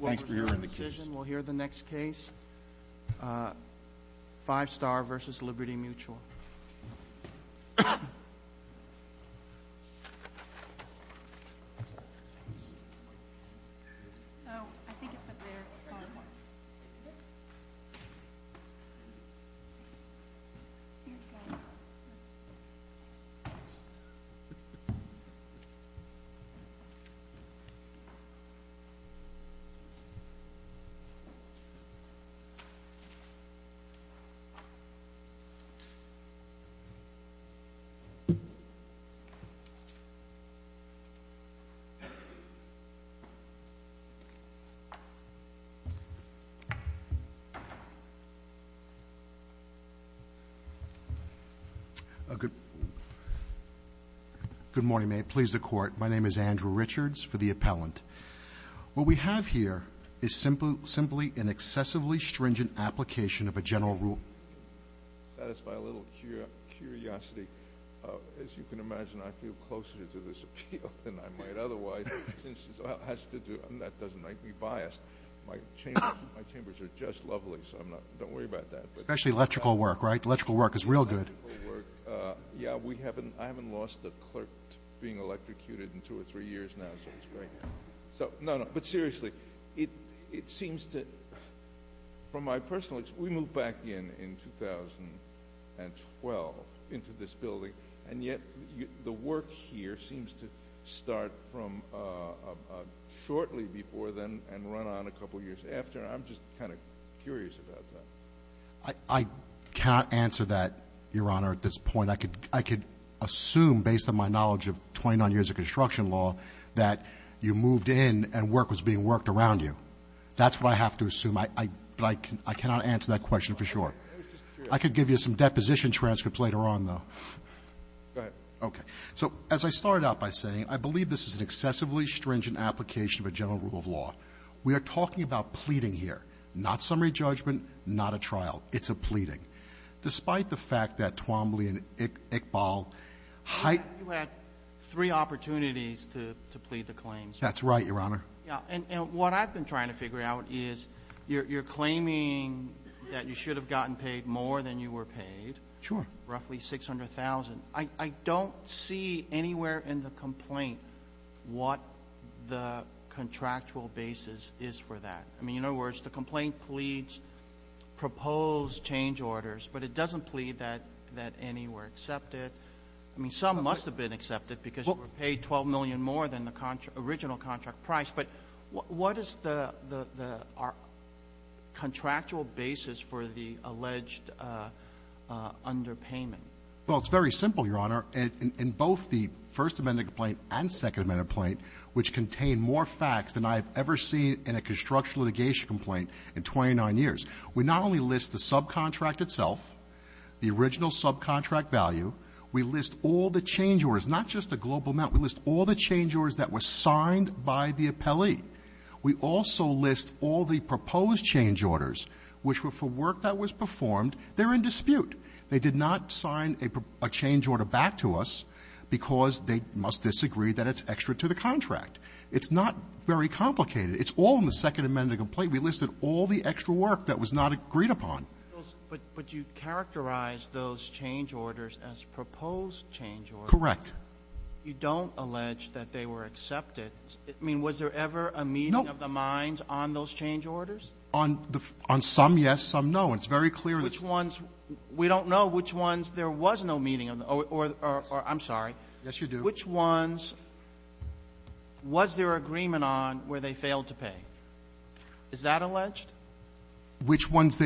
We'll hear the next case, Five Star versus Liberty Mutual. Good morning. May it please the court. My name is Andrew Richards for the appellant. What we have here is simply an excessively stringent application of a general rule. That is my little curiosity. As you can imagine, I feel closer to this appeal than I might otherwise, since it has to do – and that doesn't make me biased. My chambers are just lovely, so don't worry about that. Especially electrical work, right? Electrical work is real good. Yeah, I haven't lost a clerk being electrocuted in two or three years now, so it's great. No, no, but seriously, it seems to – from my personal experience, we moved back in in 2012 into this building, and yet the work here seems to start from shortly before then and run on a couple years after. I'm just kind of curious about that. I cannot answer that, Your Honor, at this point. I could assume, based on my knowledge of 29 years of construction law, that you moved in and work was being worked around you. That's what I have to assume, but I cannot answer that question for sure. I could give you some deposition transcripts later on, though. Go ahead. Okay. So as I started out by saying, I believe this is an excessively stringent application of a general rule of law. We are talking about pleading here, not summary judgment, not a trial. It's a pleading. Despite the fact that Twombly and Iqbal – You had three opportunities to plead the claims. That's right, Your Honor. Yeah, and what I've been trying to figure out is you're claiming that you should have gotten paid more than you were paid, roughly $600,000. I don't see anywhere in the complaint what the contractual basis is for that. I mean, in other words, the complaint pleads proposed change orders, but it doesn't plead that any were accepted. I mean, some must have been accepted because you were paid $12 million more than the original contract price, but what is the contractual basis for the alleged underpayment? Well, it's very simple, Your Honor. In both the First Amendment complaint and Second Amendment complaint, which contain more facts than I have ever seen in a construction litigation complaint in 29 years, we not only list the subcontract itself, the original subcontract value, we list all the change orders, not just the global amount. We list all the change orders that were signed by the appellee. We also list all the proposed change orders, which were for work that was performed. They're in dispute. They did not sign a change order back to us because they must disagree that it's extra to the contract. It's not very complicated. It's all in the Second Amendment complaint. We listed all the extra work that was not agreed upon. But you characterize those change orders as proposed change orders. Correct. You don't allege that they were accepted. I mean, was there ever a meeting of the minds on those change orders? On some, yes. Some, no. It's very clear. Which ones? We don't know which ones. There was no meeting. I'm sorry. Yes, you do. Which ones? Was there agreement on where they failed to pay? Is that alleged? Which ones?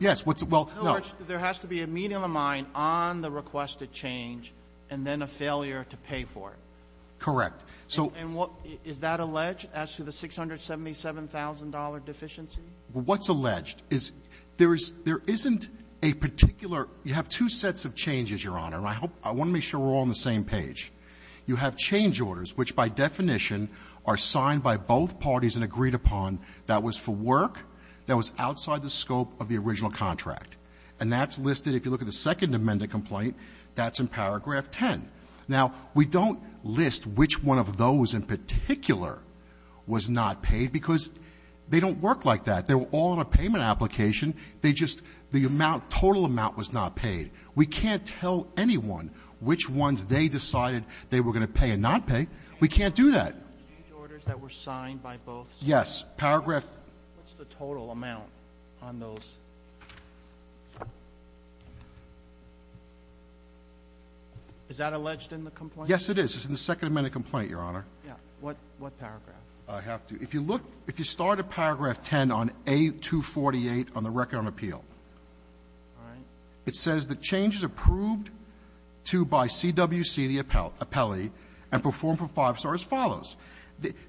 Yes. Well, no. There has to be a meeting of the mind on the requested change and then a failure to pay for it. Correct. Is that alleged as to the $677,000 deficiency? What's alleged? There isn't a particular – you have two sets of changes, Your Honor, and I want to make sure we're all on the same page. You have change orders, which by definition are signed by both parties and agreed upon that was for work that was outside the scope of the original contract. And that's listed, if you look at the Second Amendment complaint, that's in paragraph 10. Now, we don't list which one of those in particular was not paid because they don't work like that. They were all in a payment application. They just – the amount, total amount was not paid. We can't tell anyone which ones they decided they were going to pay and not pay. We can't do that. Change orders that were signed by both sides? Yes. Paragraph – What's the total amount on those? Is that alleged in the complaint? Yes, it is. It's in the Second Amendment complaint, Your Honor. What paragraph? I have to – if you look – if you start at paragraph 10 on any of the changes, A248 on the record on appeal, all right, it says that change is approved to by CWC, the appellee, and performed for five stars as follows.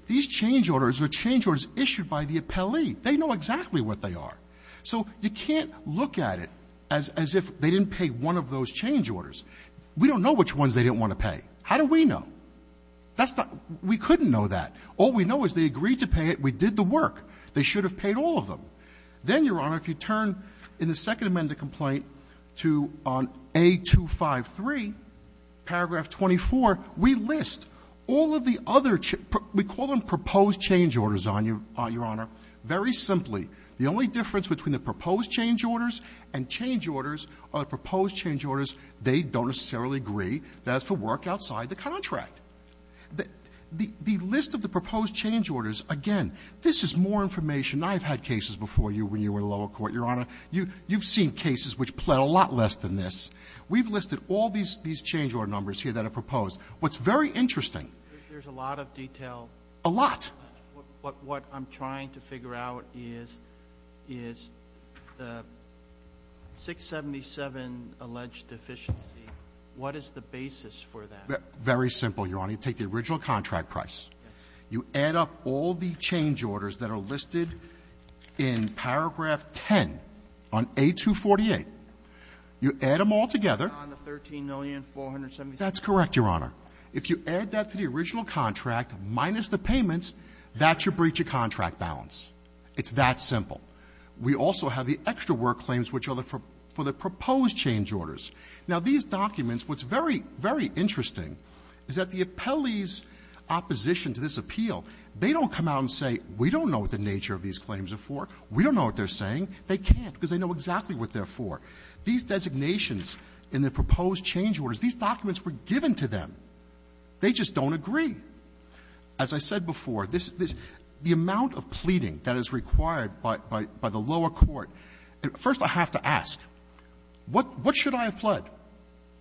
These change orders are change orders issued by the appellee. They know exactly what they are. So you can't look at it as if they didn't pay one of those change orders. We don't know which ones they didn't want to pay. How do we know? That's not – we couldn't know that. All we know is they agreed to pay it. We did the work. They should have paid all of them. Then, Your Honor, if you turn in the Second Amendment complaint to – on A253, paragraph 24, we list all of the other – we call them proposed change orders, Your Honor. Very simply, the only difference between the proposed change orders and change orders are the proposed change orders, they don't necessarily agree. That's for work outside the contract. The list of the proposed change orders, again, this is more information. I've had cases before you when you were in lower court, Your Honor. You've seen cases which pled a lot less than this. We've listed all these change order numbers here that are proposed. What's very interesting – There's a lot of detail. A lot. What I'm trying to figure out is the 677 alleged deficiency, what is the basis for that? Very simple, Your Honor. You take the original contract price. You add up all the change orders that are listed in paragraph 10 on A248. You add them all together. On the $13,470,000? That's correct, Your Honor. If you add that to the original contract minus the payments, that should breach your contract balance. It's that simple. We also have the extra work claims, which are for the proposed change orders. Now, these documents, what's very, very interesting is that the appellees' opposition to this appeal, they don't come out and say, we don't know what the nature of these claims are for, we don't know what they're saying. They can't because they know exactly what they're for. These designations in the proposed change orders, these documents were given to them. They just don't agree. As I said before, this is the amount of pleading that is required by the lower court. First, I have to ask, what should I have pled?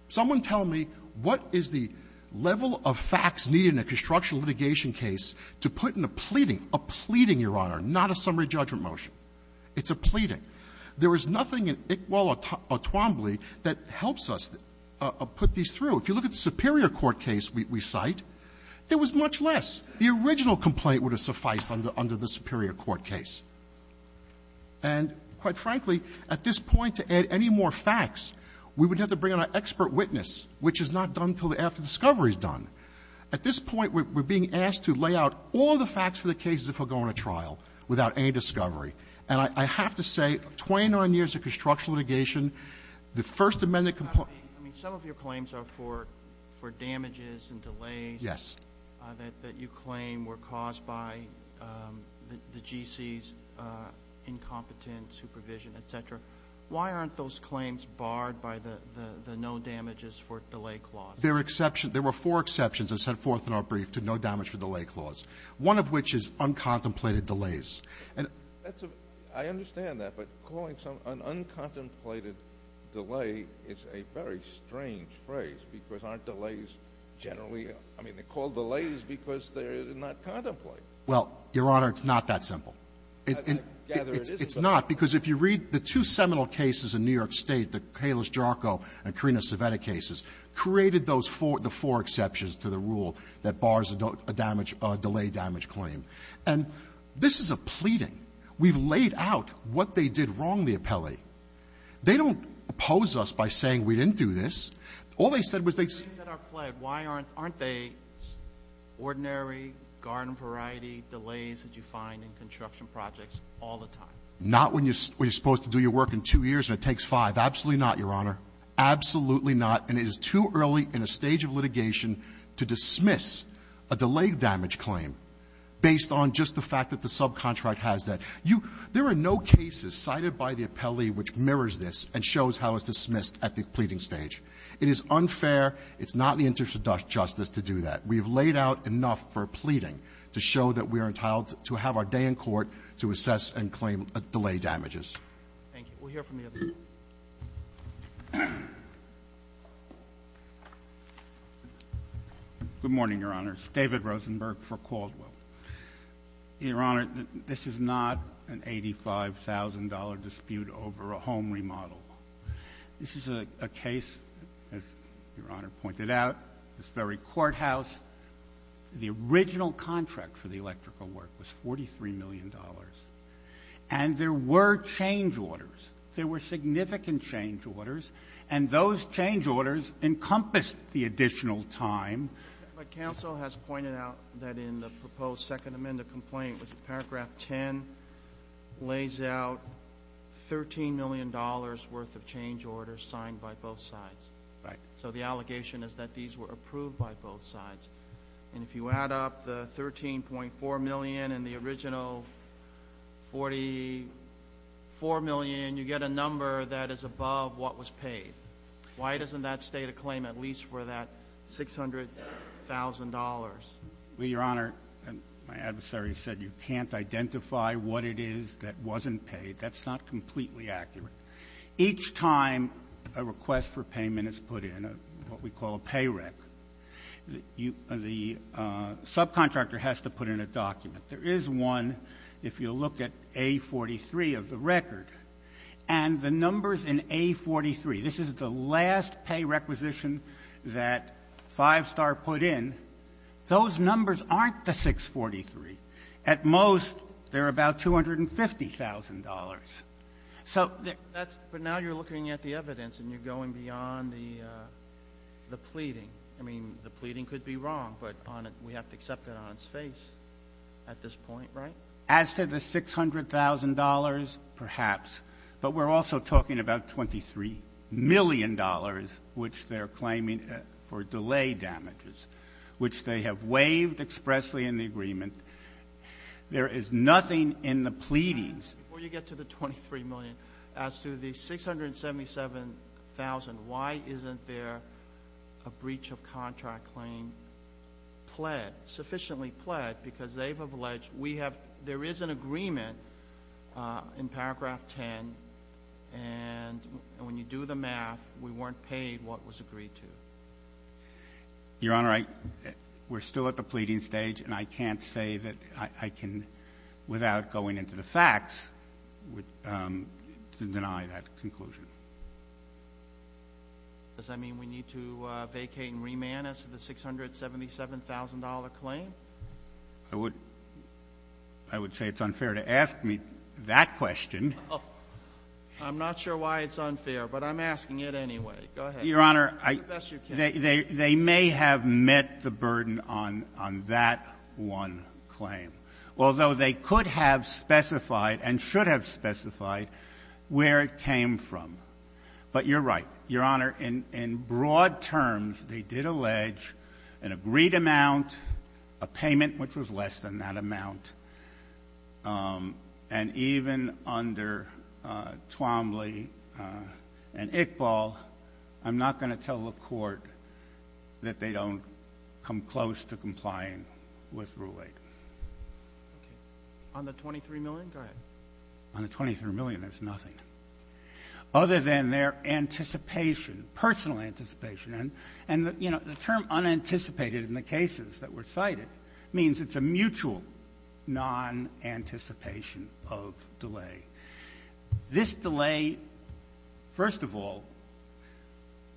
Someone tell me what is the level of facts needed in a construction litigation case to put in a pleading, a pleading, Your Honor, not a summary judgment motion. It's a pleading. There is nothing in Iqbal Atwambly that helps us put these through. If you look at the superior court case we cite, there was much less. The original complaint would have sufficed under the superior court case. And quite frankly, at this point, to add any more facts, we would have to bring in our expert witness, which is not done until after the discovery is done. At this point, we're being asked to lay out all the facts for the cases that will go on a trial without any discovery. And I have to say, 29 years of construction litigation, the First Amendment complaint ---- I mean, some of your claims are for damages and delays. Yes. That you claim were caused by the GC's incompetent supervision, et cetera. Why aren't those claims barred by the no damages for delay clause? There were four exceptions that were set forth in our brief to no damage for delay clause, one of which is uncontemplated delays. I understand that, but calling an uncontemplated delay is a very strange phrase, because aren't delays generally ---- I mean, they're called delays because they're not contemplated. Well, Your Honor, it's not that simple. I gather it isn't. It's not, because if you read the two seminal cases in New York State, the Calis-Jarco and Carina Civetta cases, created those four ---- the four exceptions to the rule that bars a damage ---- a delay damage claim. And this is a pleading. We've laid out what they did wrong, the appellee. They don't oppose us by saying we didn't do this. All they said was they ---- If delays are pled, why aren't they ordinary garden variety delays that you find in construction projects all the time? Not when you're supposed to do your work in two years and it takes five. Absolutely not, Your Honor. Absolutely not. And it is too early in a stage of litigation to dismiss a delay damage claim based on just the fact that the subcontract has that. There are no cases cited by the appellee which mirrors this and shows how it's unfair. It's not in the interest of justice to do that. We've laid out enough for pleading to show that we are entitled to have our day in court to assess and claim delay damages. Thank you. We'll hear from the other side. Good morning, Your Honor. It's David Rosenberg for Caldwell. Your Honor, this is not an $85,000 dispute over a home remodel. This is a case, as Your Honor pointed out, this very courthouse. The original contract for the electrical work was $43 million. And there were change orders. There were significant change orders. And those change orders encompassed the additional time. But counsel has pointed out that in the proposed Second Amendment complaint, which is Paragraph 10, lays out $13 million worth of change orders signed by both sides. Right. So the allegation is that these were approved by both sides. And if you add up the $13.4 million and the original $44 million, you get a number that is above what was paid. Why doesn't that state a claim at least for that $600,000? Well, Your Honor, my adversary said you can't identify what it is that wasn't paid. That's not completely accurate. Each time a request for payment is put in, what we call a pay rec, the subcontractor has to put in a document. There is one, if you'll look at A43 of the record. And the numbers in A43, this is the last pay requisition that Five Star put in. Those numbers aren't the 643. At most, they're about $250,000. But now you're looking at the evidence and you're going beyond the pleading. I mean, the pleading could be wrong, but we have to accept it on its face at this point, right? As to the $600,000, perhaps, but we're also talking about $23 million, which they're claiming for delay damages, which they have waived expressly in the agreement. There is nothing in the pleadings. Before you get to the $23 million, as to the $677,000, why isn't there a breach of contract claim pled, sufficiently pled, because they've alleged we have, there is an agreement in paragraph 10. And when you do the math, we weren't paid what was agreed to. Your Honor, we're still at the pleading stage and I can't say that I can, without going into the facts, deny that conclusion. Does that mean we need to vacate and remand as to the $677,000 claim? I would say it's unfair to ask me that question. I'm not sure why it's unfair, but I'm asking it anyway. Go ahead. Your Honor, they may have met the burden on that one claim. Although they could have specified and should have specified where it came from. But you're right. Your Honor, in broad terms, they did allege an agreed amount, a payment which was less than that amount, and even under Twombly and Iqbal, I'm not going to tell the On the $23 million? Go ahead. On the $23 million, there's nothing other than their anticipation, personal anticipation. And, you know, the term unanticipated in the cases that were cited means it's a mutual non-anticipation of delay. This delay, first of all,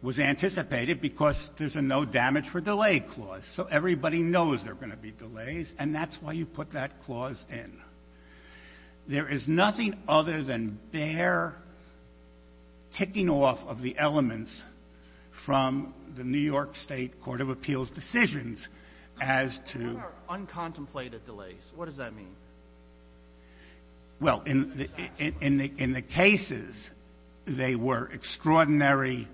was anticipated because there's a no damage for delay clause. So everybody knows there are going to be delays, and that's why you put that clause in. There is nothing other than bare ticking off of the elements from the New York State Court of Appeals decisions as to How about uncontemplated delays? What does that mean? Well, in the cases, they were extraordinary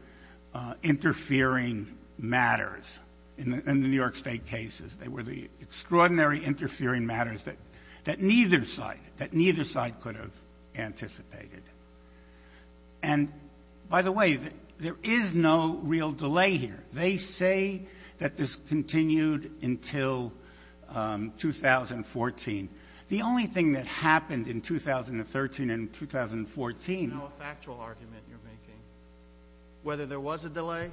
interfering matters. In the New York State cases, they were the extraordinary interfering matters that neither side, that neither side could have anticipated. And, by the way, there is no real delay here. They say that this continued until 2014. The only thing that happened in 2013 and 2014 Whether there was a delay,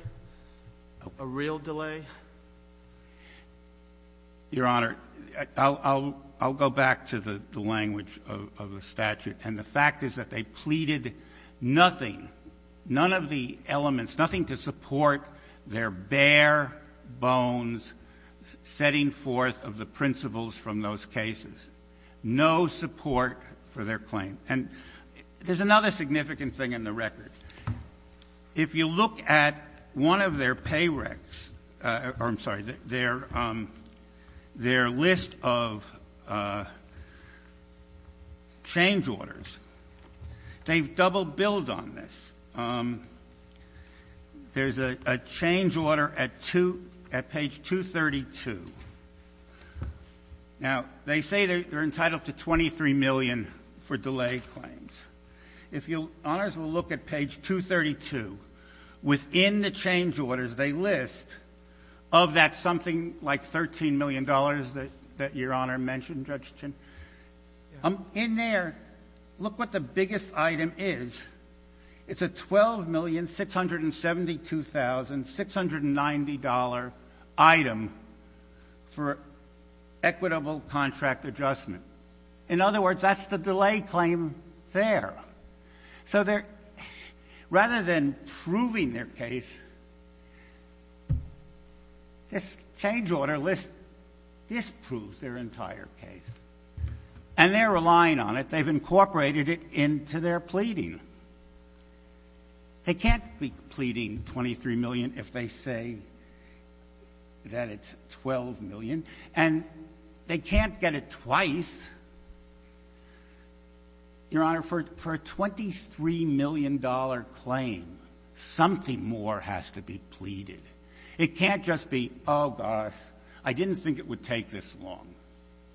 a real delay? Your Honor, I'll go back to the language of the statute. And the fact is that they pleaded nothing, none of the elements, nothing to support their bare bones setting forth of the principles from those cases. No support for their claim. And there's another significant thing in the record. If you look at one of their pay recs, or I'm sorry, their list of change orders, they've double-billed on this. There's a change order at page 232. Now, they say they're entitled to $23 million for delay claims. If you'll – Honors will look at page 232. Within the change orders, they list of that something like $13 million that Your Honor mentioned, Judge Chin. In there, look what the biggest item is. It's a $12,672,690 item for equitable contract adjustment. In other words, that's the delay claim there. So rather than proving their case, this change order list disproves their entire case. And they're relying on it. They've incorporated it into their pleading. They can't be pleading $23 million if they say that it's $12 million. And they can't get it twice. Your Honor, for a $23 million claim, something more has to be pleaded. It can't just be, oh, gosh, I didn't think it would take this long.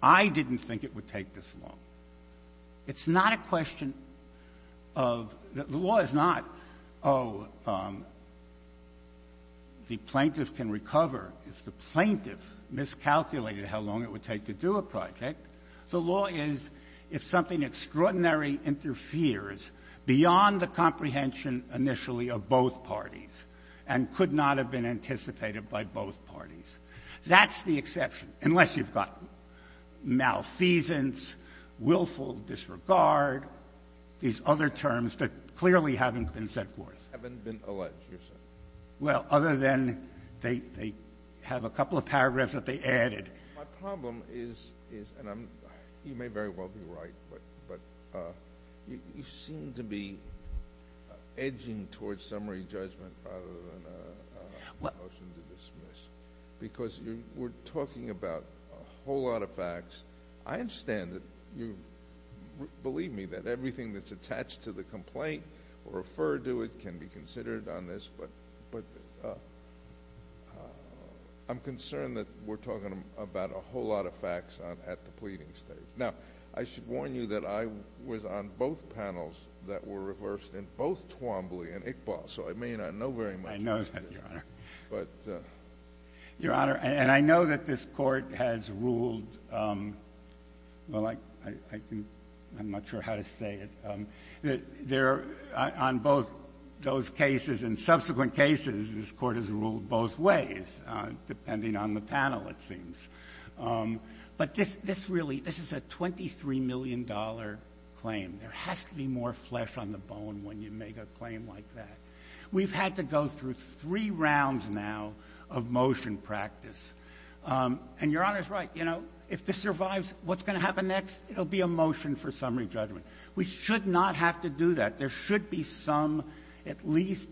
I didn't think it would take this long. It's not a question of – the law is not, oh, the plaintiff can recover if the plaintiff miscalculated how long it would take to do a project. The law is if something extraordinary interferes beyond the comprehension initially of both parties and could not have been anticipated by both parties. That's the exception, unless you've got malfeasance, willful disregard, these other terms that clearly haven't been set forth. Haven't been alleged, you're saying? Well, other than they have a couple of paragraphs that they added. My problem is, and you may very well be right, but you seem to be edging towards a summary judgment rather than a motion to dismiss. Because we're talking about a whole lot of facts. I understand that you – believe me, that everything that's attached to the complaint or referred to it can be considered on this. But I'm concerned that we're talking about a whole lot of facts at the pleading stage. Now, I should warn you that I was on both panels that were reversed in both Twombly and Iqbal, so I may not know very much about this. I know that, Your Honor. But – Your Honor, and I know that this Court has ruled – well, I can – I'm not sure how to say it. On both those cases and subsequent cases, this Court has ruled both ways, depending on the panel, it seems. But this really – this is a $23 million claim. There has to be more flesh on the bone when you make a claim like that. We've had to go through three rounds now of motion practice. And Your Honor's right. You know, if this survives, what's going to happen next? It'll be a motion for summary judgment. We should not have to do that. There should be some at least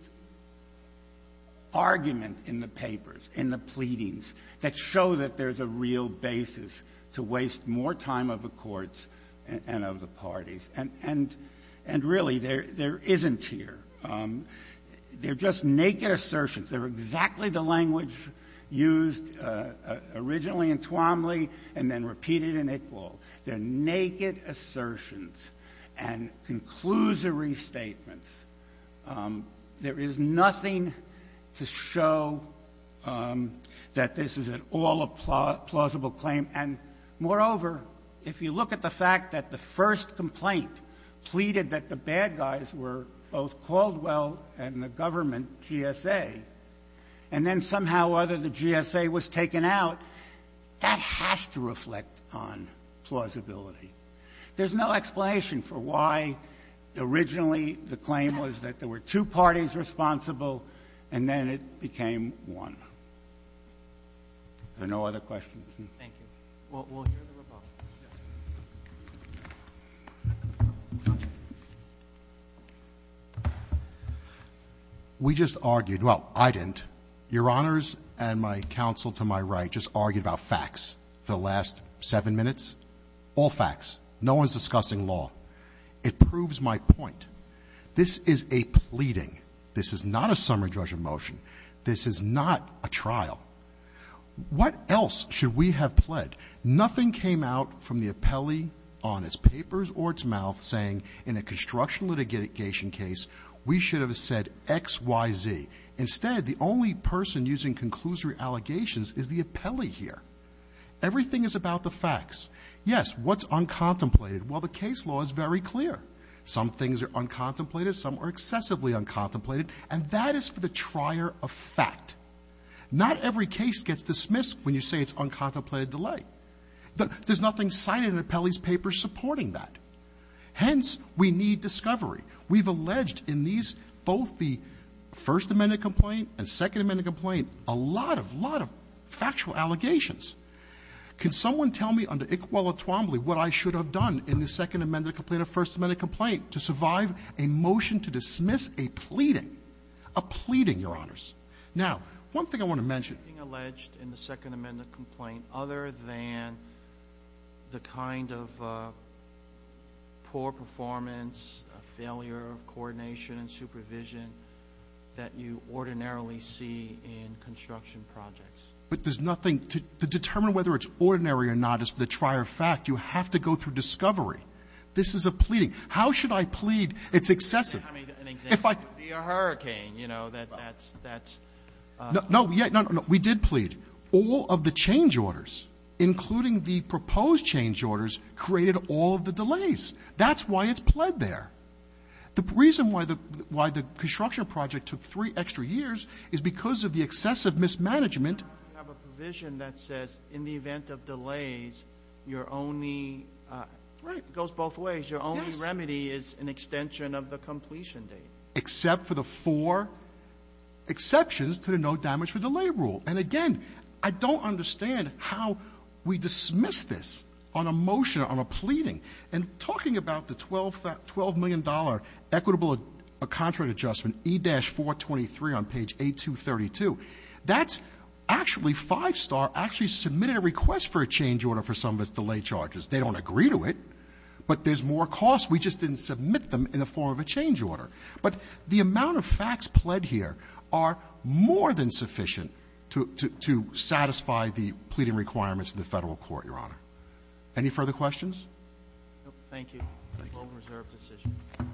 argument in the papers, in the pleadings, that show that there's a real basis to waste more time of the courts and of the parties. And really, there isn't here. They're just naked assertions. They're exactly the language used originally in Twombly and then repeated in Iqbal. They're naked assertions and conclusory statements. There is nothing to show that this is at all a plausible claim. And moreover, if you look at the fact that the first complaint pleaded that the bad guys were both Caldwell and the government, GSA, and then somehow or other the GSA was taken out, that has to reflect on plausibility. There's no explanation for why originally the claim was that there were two parties responsible and then it became one. Are there no other questions? Thank you. We'll hear the rebuttal. We just argued. Well, I didn't. Your Honors and my counsel to my right just argued about facts the last seven minutes, all facts. No one's discussing law. It proves my point. This is a pleading. This is not a summary judgment motion. This is not a trial. What else should we have pled? Nothing came out from the appellee on its papers or its mouth saying, in a construction litigation case, we should have said X, Y, Z. Instead, the only person using conclusory allegations is the appellee here. Everything is about the facts. Yes, what's uncontemplated? Well, the case law is very clear. Some things are uncontemplated, some are excessively uncontemplated, and that is for the trier of fact. Not every case gets dismissed when you say it's uncontemplated delight. There's nothing cited in the appellee's papers supporting that. Hence, we need discovery. We've alleged in these, both the First Amendment complaint and Second Amendment complaint, a lot of, a lot of factual allegations. Can someone tell me under Iqbala-Twombly what I should have done in the Second Amendment complaint or First Amendment complaint to survive a motion to dismiss a pleading, a pleading, Your Honors? Now, one thing I want to mention. Sotomayor, being alleged in the Second Amendment complaint, other than the kind of poor performance, failure of coordination and supervision that you ordinarily see in construction projects. But there's nothing. To determine whether it's ordinary or not is for the trier of fact. You have to go through discovery. This is a pleading. How should I plead? It's excessive. I mean, an example would be a hurricane. You know, that's, that's. No, yeah, no, no, no. We did plead. All of the change orders, including the proposed change orders, created all of the delays. That's why it's pled there. The reason why the, why the construction project took three extra years is because of the excessive mismanagement. You have a provision that says in the event of delays, your only, it goes both ways, your only remedy is an extension of the completion date. Except for the four exceptions to the no damage for delay rule. And again, I don't understand how we dismiss this on a motion, on a pleading. And talking about the $12 million equitable contract adjustment, E-423 on page 8232, that's actually, Five Star actually submitted a request for a change order for some of its delay charges. They don't agree to it, but there's more cost. We just didn't submit them in the form of a change order. But the amount of facts pled here are more than sufficient to satisfy the pleading requirements of the federal court, Your Honor. Any further questions? No, thank you. Thank you. Moved and reserved this issue.